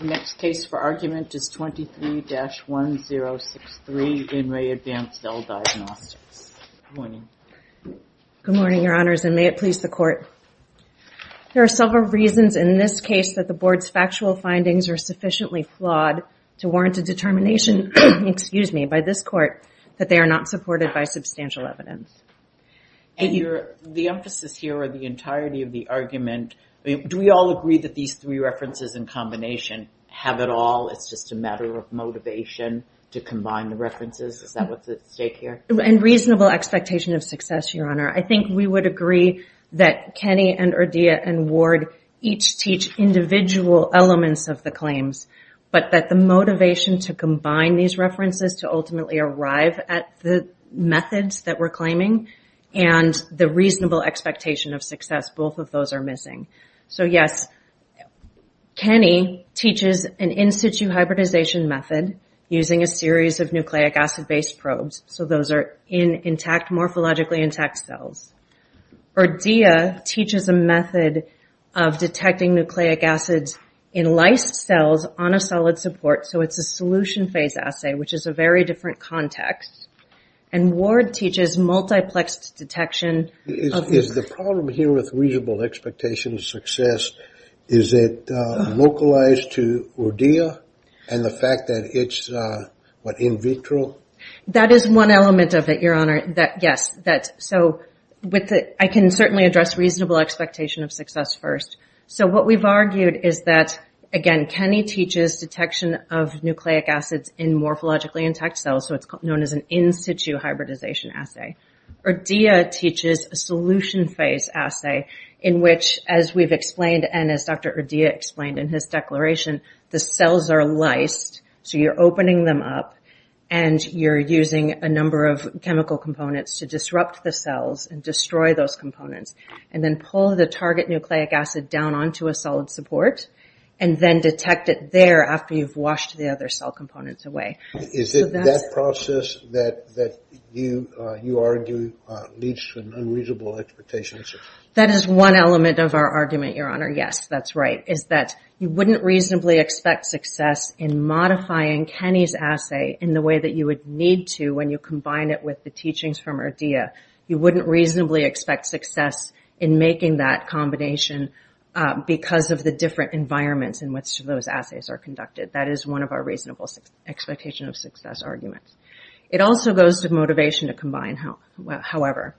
The next case for argument is 23-1063, In Re. Advanced Cell Diagnostics. Good morning. Good morning, Your Honors, and may it please the Court. There are several reasons in this case that the Board's factual findings are sufficiently flawed to warrant a determination by this Court that they are not supported by substantial evidence. The emphasis here or the entirety of the argument, do we all agree that these three references in combination have it all? It's just a matter of motivation to combine the references? Is that what's at stake here? And reasonable expectation of success, Your Honor. I think we would agree that Kenny and Urdia and Ward each teach individual elements of the claims, but that the motivation to combine these references to ultimately arrive at the methods that we're claiming and the reasonable expectation of success, both of those are missing. So yes, Kenny teaches an in-situ hybridization method using a series of nucleic acid-based probes, so those are in morphologically intact cells. Urdia teaches a method of detecting nucleic acids in lysed cells on a solid support, so it's a solution phase assay, which is a very different context. And Ward teaches multiplexed detection. Is the problem here with reasonable expectation of success, is it localized to Urdia and the fact that it's, what, in vitro? That is one element of it, Your Honor, yes. So I can certainly address reasonable expectation of success first. So what we've argued is that, again, Kenny teaches detection of nucleic acids in morphologically intact cells, so it's known as an in-situ hybridization assay. Urdia teaches a solution phase assay in which, as we've explained and as Dr. Urdia explained in his declaration, the cells are lysed, so you're opening them up and you're using a number of chemical components to disrupt the cells and destroy those components and then pull the target nucleic acid down onto a solid support and then detect it there after you've washed the other cell components away. Is it that process that you argue leads to an unreasonable expectation of success? That is one element of our argument, Your Honor, yes, that's right, is that you wouldn't reasonably expect success in modifying Kenny's assay in the way that you would need to when you combine it with the teachings from Urdia. You wouldn't reasonably expect success in making that combination because of the different environments in which those assays are conducted. That is one of our reasonable expectation of success arguments. It also goes to motivation to combine, however.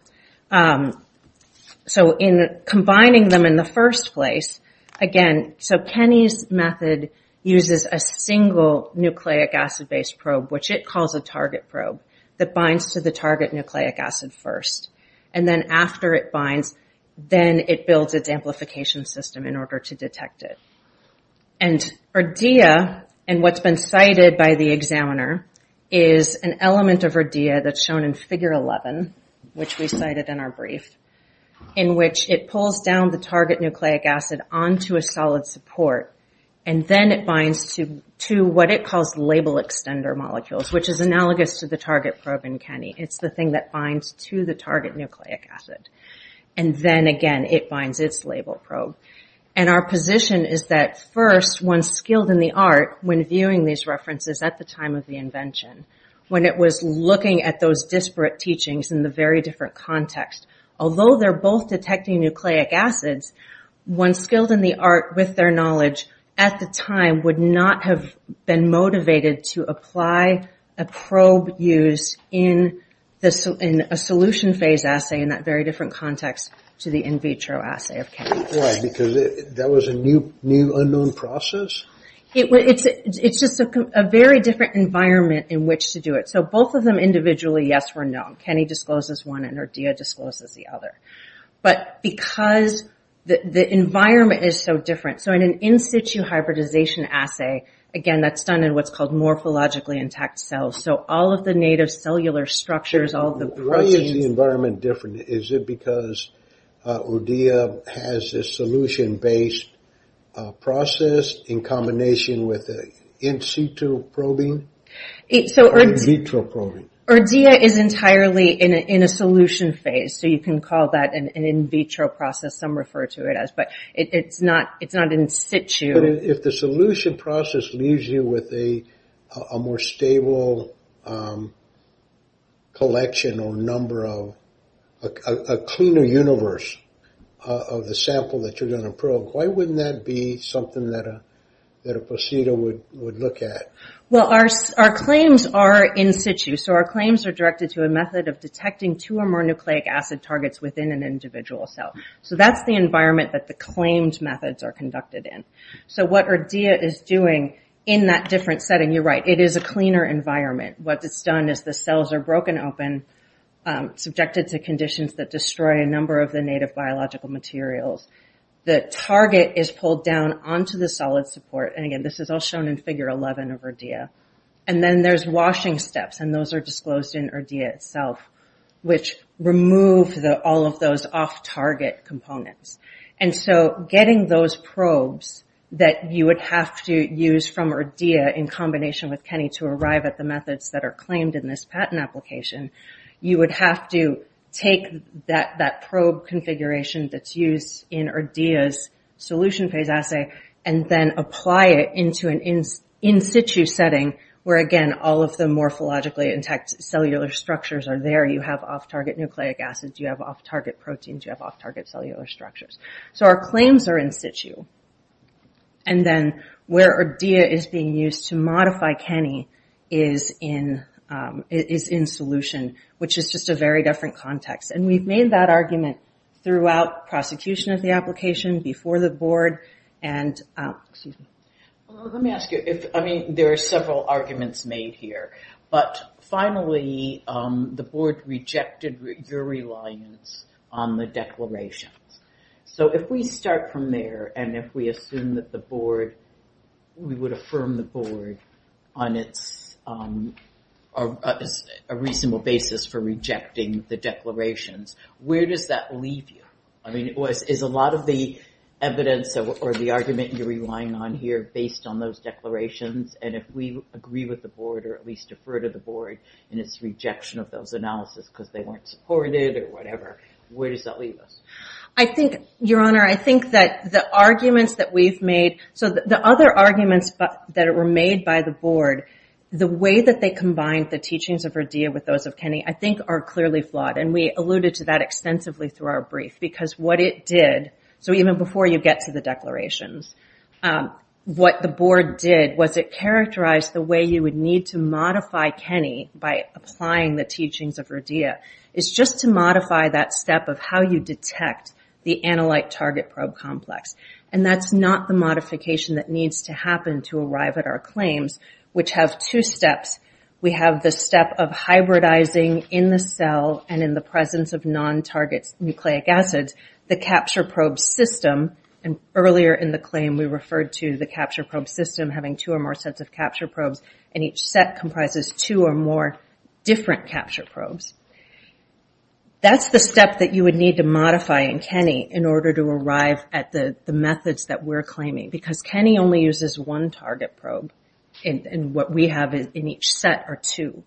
So in combining them in the first place, again, so Kenny's method uses a single nucleic acid-based probe, which it calls a target probe, that binds to the target nucleic acid first, and then after it binds, then it builds its amplification system in order to detect it. And Urdia, and what's been cited by the examiner, is an element of Urdia that's shown in Figure 11, which we cited in our brief, in which it pulls down the target nucleic acid onto a solid support and then it binds to what it calls label extender molecules, which is analogous to the target probe in Kenny. It's the thing that binds to the target nucleic acid. And then, again, it binds its label probe. And our position is that first, one skilled in the art, when viewing these references at the time of the invention, when it was looking at those disparate teachings in the very different context, although they're both detecting nucleic acids, one skilled in the art with their knowledge at the time would not have been motivated to apply a probe used in a solution phase assay in that very different context to the in vitro assay of Kenny. Why? Because that was a new unknown process? It's just a very different environment in which to do it. So both of them individually, yes or no. Kenny discloses one and Urdia discloses the other. But because the environment is so different, so in an in situ hybridization assay, again, that's done in what's called morphologically intact cells. So all of the native cellular structures, all of the proteins. Why is the environment different? Is it because Urdia has this solution-based process in combination with an in situ probing? Or in vitro probing? Urdia is entirely in a solution phase. So you can call that an in vitro process. Some refer to it as, but it's not in situ. If the solution process leaves you with a more stable collection or a cleaner universe of the sample that you're going to probe, why wouldn't that be something that a procedure would look at? Well, our claims are in situ. So our claims are directed to a method of detecting two or more nucleic acid targets within an individual cell. So that's the environment that the claimed methods are conducted in. So what Urdia is doing in that different setting, you're right, it is a cleaner environment. What it's done is the cells are broken open, subjected to conditions that destroy a number of the native biological materials. The target is pulled down onto the solid support. And, again, this is all shown in Figure 11 of Urdia. And then there's washing steps, and those are disclosed in Urdia itself, which remove all of those off-target components. And so getting those probes that you would have to use from Urdia in combination with Kenny to arrive at the methods that are claimed in this patent application, you would have to take that probe configuration that's used in Urdia's solution phase assay and then apply it into an in situ setting, where, again, all of the morphologically intact cellular structures are there. You have off-target nucleic acids, you have off-target proteins, So our claims are in situ. And then where Urdia is being used to modify Kenny is in solution, which is just a very different context. And we've made that argument throughout prosecution of the application, before the board, and... Let me ask you, I mean, there are several arguments made here. But, finally, the board rejected your reliance on the declarations. So if we start from there, and if we assume that the board... We would affirm the board on its... A reasonable basis for rejecting the declarations, where does that leave you? I mean, is a lot of the evidence or the argument you're relying on here based on those declarations? And if we agree with the board, or at least defer to the board in its rejection of those analysis because they weren't supported, or whatever, where does that leave us? Your Honor, I think that the arguments that we've made... So the other arguments that were made by the board, the way that they combined the teachings of Urdia with those of Kenny, I think are clearly flawed. And we alluded to that extensively through our brief. Because what it did... So even before you get to the declarations, what the board did was it characterized the way you would need to modify Kenny by applying the teachings of Urdia. It's just to modify that step of how you detect the analyte target probe complex. And that's not the modification that needs to happen to arrive at our claims, which have two steps. We have the step of hybridizing in the cell and in the presence of non-target nucleic acids the capture probe system. And earlier in the claim we referred to the capture probe system having two or more sets of capture probes and each set comprises two or more different capture probes. That's the step that you would need to modify in Kenny in order to arrive at the methods that we're claiming. Because Kenny only uses one target probe and what we have in each set are two.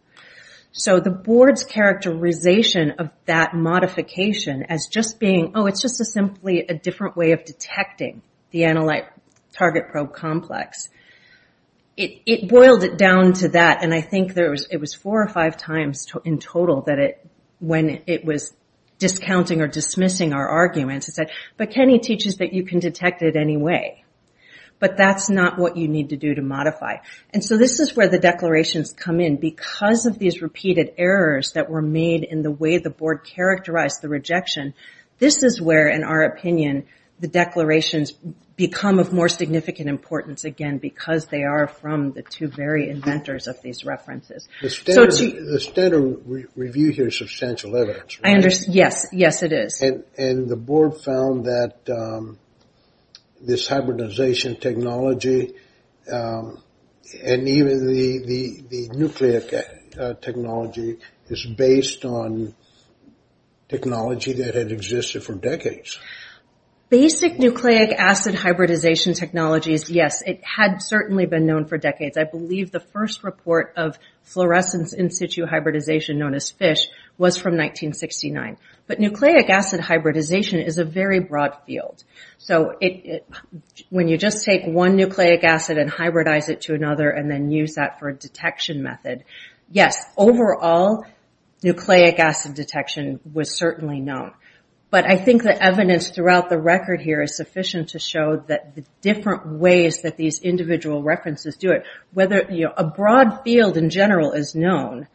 So the board's characterization of that modification as just being, oh, it's just simply a different way of detecting the analyte target probe complex. It boiled it down to that and I think it was four or five times in total when it was discounting or dismissing our arguments. It said, but Kenny teaches that you can detect it anyway. But that's not what you need to do to modify. And so this is where the declarations come in. Because of these repeated errors that were made in the way the board characterized the rejection, this is where, in our opinion, the declarations become of more significant importance because they are from the two very inventors of these references. The standard review here is substantial evidence. Yes, yes it is. And the board found that this hybridization technology and even the nucleic technology is based on technology that had existed for decades. Basic nucleic acid hybridization technologies, yes. It had certainly been known for decades. I believe the first report of fluorescence in situ hybridization known as FISH was from 1969. But nucleic acid hybridization is a very broad field. So when you just take one nucleic acid and hybridize it to another and then use that for a detection method, yes, overall nucleic acid detection was certainly known. But I think the evidence throughout the record here is sufficient to show the different ways that these individual references do it. A broad field in general is known.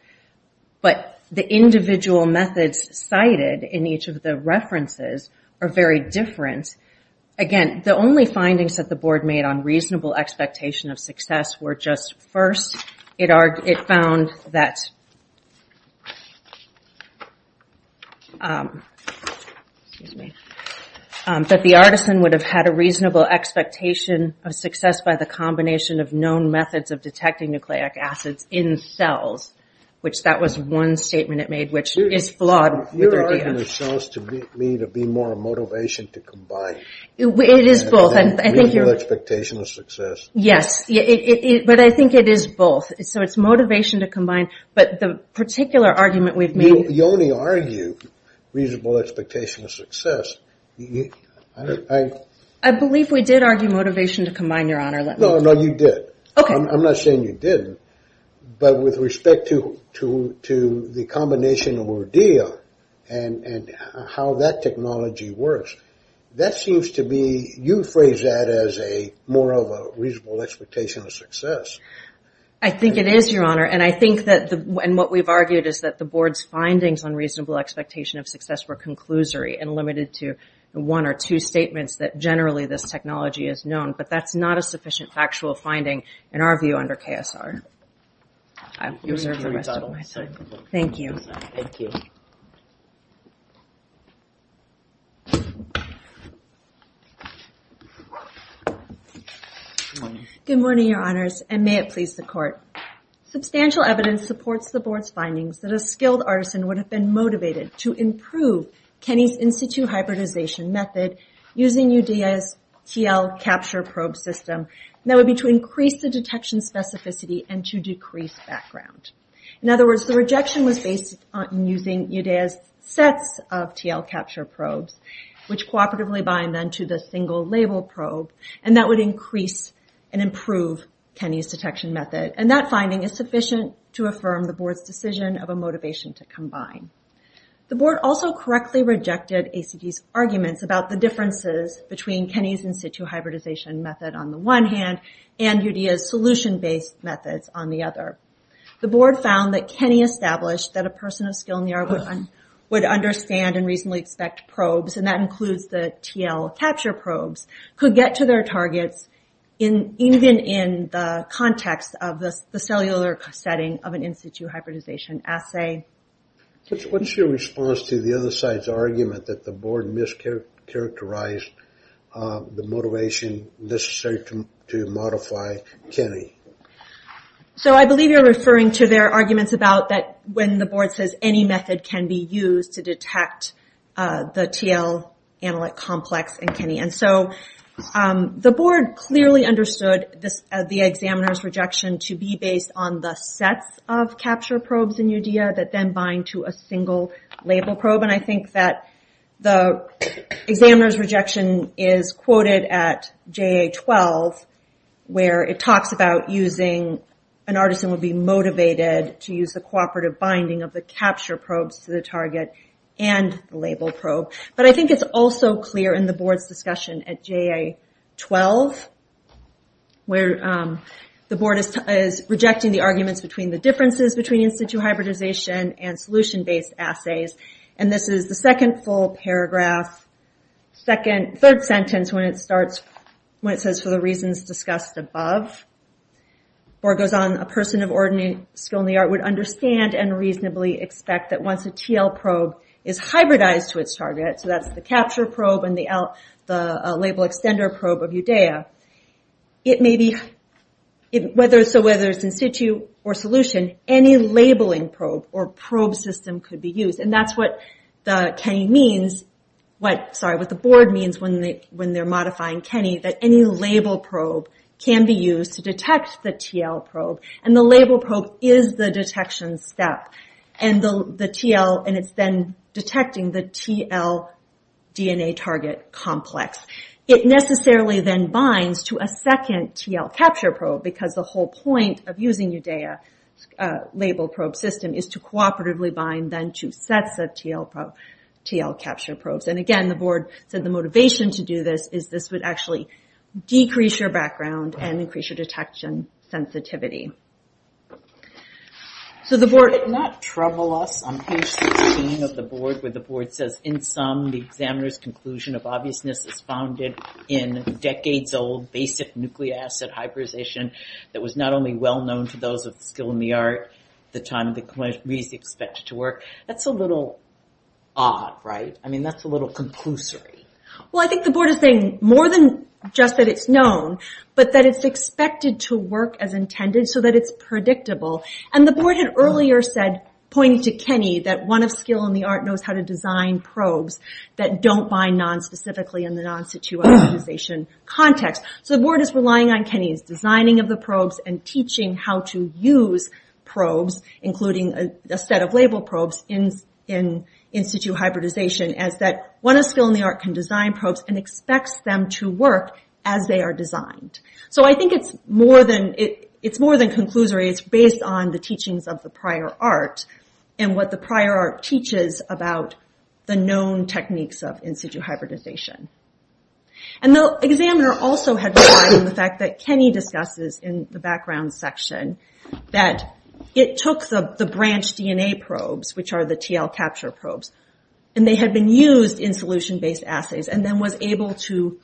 But the individual methods cited in each of the references are very different. Again, the only findings that the board made on reasonable expectation of success were just first. It found that the artisan would have had a reasonable expectation of success by the combination of known methods of detecting nucleic acids in cells. Which that was one statement it made, which is flawed. Your argument shows to me to be more a motivation to combine. It is both. Expectation of success. Yes. But I think it is both. So it's motivation to combine. But the particular argument we've made. You only argue reasonable expectation of success. I believe we did argue motivation to combine, Your Honor. No, you did. I'm not saying you didn't. But with respect to the combination of Ordea and how that technology works, that seems to be, you phrase that as more of a reasonable expectation of success. I think it is, Your Honor. And I think that what we've argued is that the board's findings on reasonable expectation of success were conclusory and limited to one or two statements that generally this technology is known. But that's not a sufficient factual finding in our view under KSR. Thank you. Good morning, Your Honors. And may it please the court. Substantial evidence supports the board's findings that a skilled artisan would have been motivated to improve Kenny's in-situ hybridization method using Udea's TL capture probe system that would be to increase the detection specificity and to decrease background. In other words, the rejection was based on using Udea's sets of TL capture probes, which cooperatively bind then to a single label probe, and that would increase and improve Kenny's detection method. And that finding is sufficient to affirm the board's decision of a motivation to combine. The board also correctly rejected ACD's arguments about the differences between Kenny's in-situ hybridization method on the one hand and Udea's solution-based methods on the other. The board found that Kenny established that a person of skill in the art would understand and reasonably expect probes, and that includes the TL capture probes, could get to their targets even in the context of the cellular setting of an in-situ hybridization assay. What's your response to the other side's argument that the board mischaracterized the motivation necessary to modify Kenny? So I believe you're referring to their arguments about that when the board says any method can be used to detect the TL analyte complex in Kenny. The board clearly understood the examiner's rejection to be based on the sets of capture probes in Udea that then bind to a single label probe, and I think that the examiner's rejection is quoted at JA-12 where it talks about using an artisan would be capture probes to the target and the label probe. But I think it's also clear in the board's discussion at JA-12 where the board is rejecting the arguments between the differences between in-situ hybridization and solution-based assays, and this is the second full paragraph, third sentence when it says for the reasons discussed above. The board goes on, a person of skill in the art would understand and reasonably expect that once a TL probe is hybridized to its target, so that's the capture probe and the label extender probe of Udea, whether it's in-situ or solution, any labeling probe or probe system could be used, and that's what the board means when they're modifying Kenny, that any label probe can be used to detect the TL probe, and the label probe is the detection step. It's then detecting the TL DNA target complex. It necessarily then binds to a second TL capture probe because the whole point of using Udea's label probe system is to cooperatively bind two sets of TL capture probes. Again, the board said the motivation to do this is this would actually decrease your background and increase your detection sensitivity. Did it not trouble us on page 16 of the board where the board says, in sum, the examiner's conclusion of obviousness is founded in decades-old basic nucleic acid hybridization that was not only well-known to those of skill in the art at the time that it was expected to work. That's a little odd, right? I mean, that's a little conclusory. Well, I think the board is saying more than just that it's known, but that it's expected to work as intended so that it's predictable. The board had earlier said, pointing to Kenny, that one of skill in the art knows how to design probes that don't bind non-specifically in the non-situ hybridization context. So the board is relying on Kenny's designing of the probes and teaching how to use probes, including a set of label probes, in-situ hybridization as that one of skill in the art can design probes and expects them to work as they are designed. So I think it's more than conclusory. It's based on the teachings of the prior art and what the prior art teaches about the known techniques of in-situ hybridization. The examiner also had relied on the fact that Kenny discusses in the background section that it took the branch DNA probes, which are the TL capture probes, and they had been used in solution-based assays and then was able to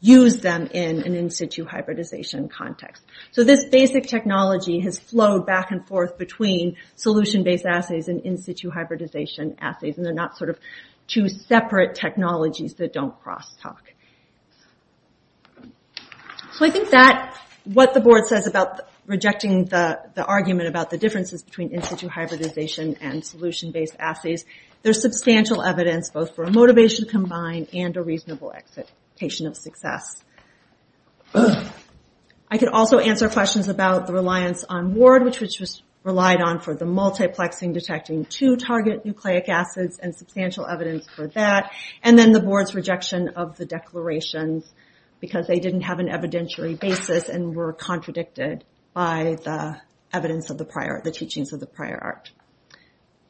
use them in an in-situ hybridization context. So this basic technology has flowed back and forth between solution-based assays and in-situ hybridization assays, and they're not two separate technologies that don't cross-talk. So I think that what the board says about rejecting the argument about the differences between in-situ hybridization and solution-based assays, there's substantial evidence both for a motivation combined and a reasonable expectation of success. I could also answer questions about the reliance on Ward, which was relied on for the multiplexing, detecting two target nucleic acids, and substantial evidence for that, and then the board's rejection of the declarations because they didn't have an evidentiary basis and were contradicted by the evidence of the prior art, the teachings of the prior art.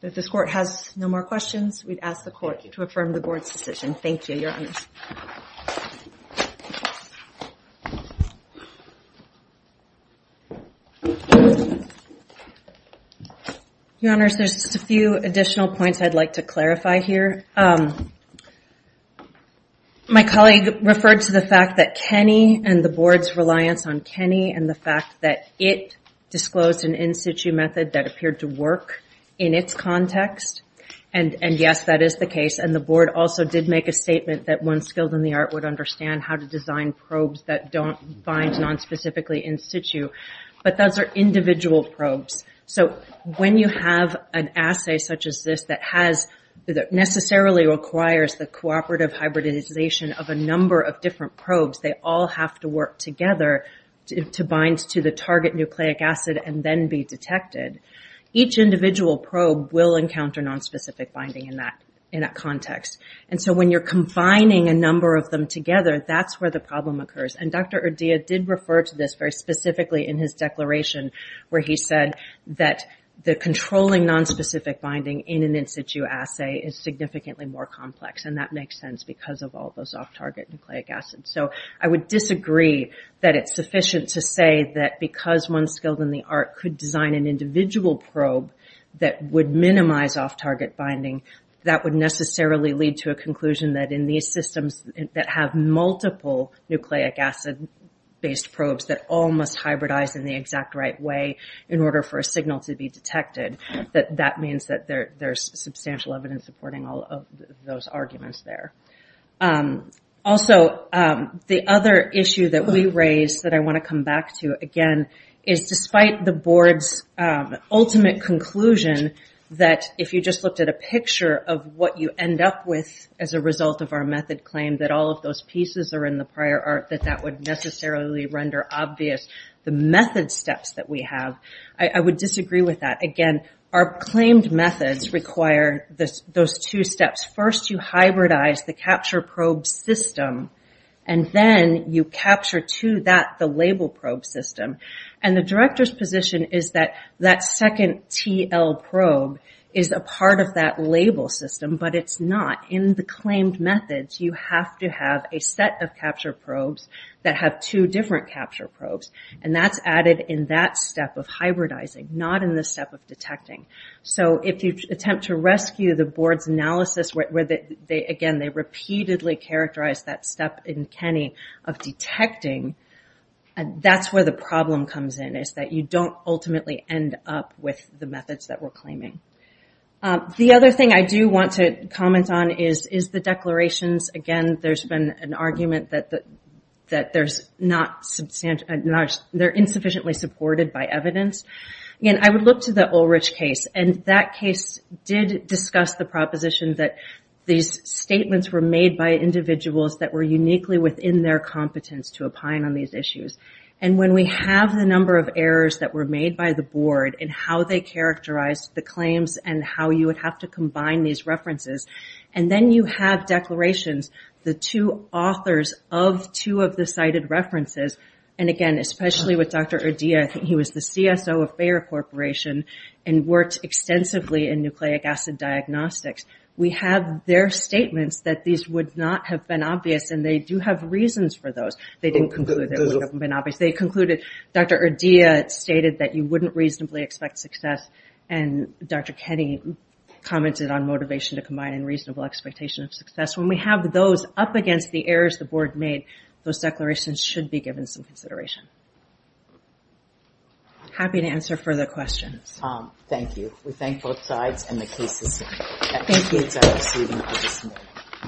If this court has no more questions, we'd ask the court to affirm the board's decision. Thank you, Your Honors. Your Honors, there's just a few additional points I'd like to clarify here. My colleague referred to the fact that Kenny and the board's reliance on Kenny and the fact that it disclosed an in-situ method that appeared to work in its context, and yes, that is the case, and the board also did make a statement that one skilled in the art would understand how to design probes that don't find non-specifically in-situ, but those are individual probes. So when you have an assay such as this that necessarily requires the cooperative hybridization of a number of different probes, they all have to work together to bind to the target nucleic acid and then be detected. Each individual probe will encounter non-specific binding in that context, and so when you're combining a number of them together, that's where the problem occurs, and Dr. Urdia did refer to this very specifically in his declaration where he said that the controlling non-specific binding in an in-situ assay is significantly more complex, and that makes sense because of all those off-target nucleic acids. So I would disagree that it's sufficient to say that because one skilled in the art could design an individual probe that would minimize off-target binding, that would necessarily lead to a conclusion that in these systems that have multiple nucleic acid based probes that all must hybridize in the detected, that that means that there's substantial evidence supporting all of those arguments there. Also, the other issue that we raised that I want to come back to again is despite the board's ultimate conclusion that if you just looked at a picture of what you end up with as a result of our method claim that all of those pieces are in the prior art that that would necessarily render obvious the method steps that we have. I would disagree with that. Again, our claimed methods require those two steps. First, you hybridize the capture probe system, and then you capture to that the label probe system. And the director's position is that that second TL probe is a part of that label system, but it's not. In the claimed methods, you have to have a set of capture probes that have two different capture probes, and that's added in that step of hybridizing, not in the step of detecting. So, if you attempt to rescue the board's analysis where, again, they repeatedly characterize that step in Kenny of detecting, that's where the problem comes in, is that you don't ultimately end up with the methods that we're claiming. The other thing I do want to comment on is the declarations. Again, there's been an argument that they're insufficiently supported by evidence. Again, I would look to the Ulrich case, and that case did discuss the proposition that these statements were made by individuals that were uniquely within their competence to opine on these issues. And when we have the number of errors that were made by the board, and how they characterized the claims, and how you would have to combine these references, and then you have declarations, the two authors of two of the cited references, and again, especially with Dr. Urdia, he was the CSO of Bayer Corporation, and worked extensively in nucleic acid diagnostics. We have their statements that these would not have been obvious, and they do have reasons for those. They didn't conclude they would have been obvious. They concluded Dr. Urdia stated that you wouldn't reasonably expect success, and Dr. Keddy commented on motivation to combine and reasonable expectation of success. When we have those up against the errors the board made, those declarations should be given some consideration. Happy to answer further questions. Thank you. We thank both sides, and the case is submitted.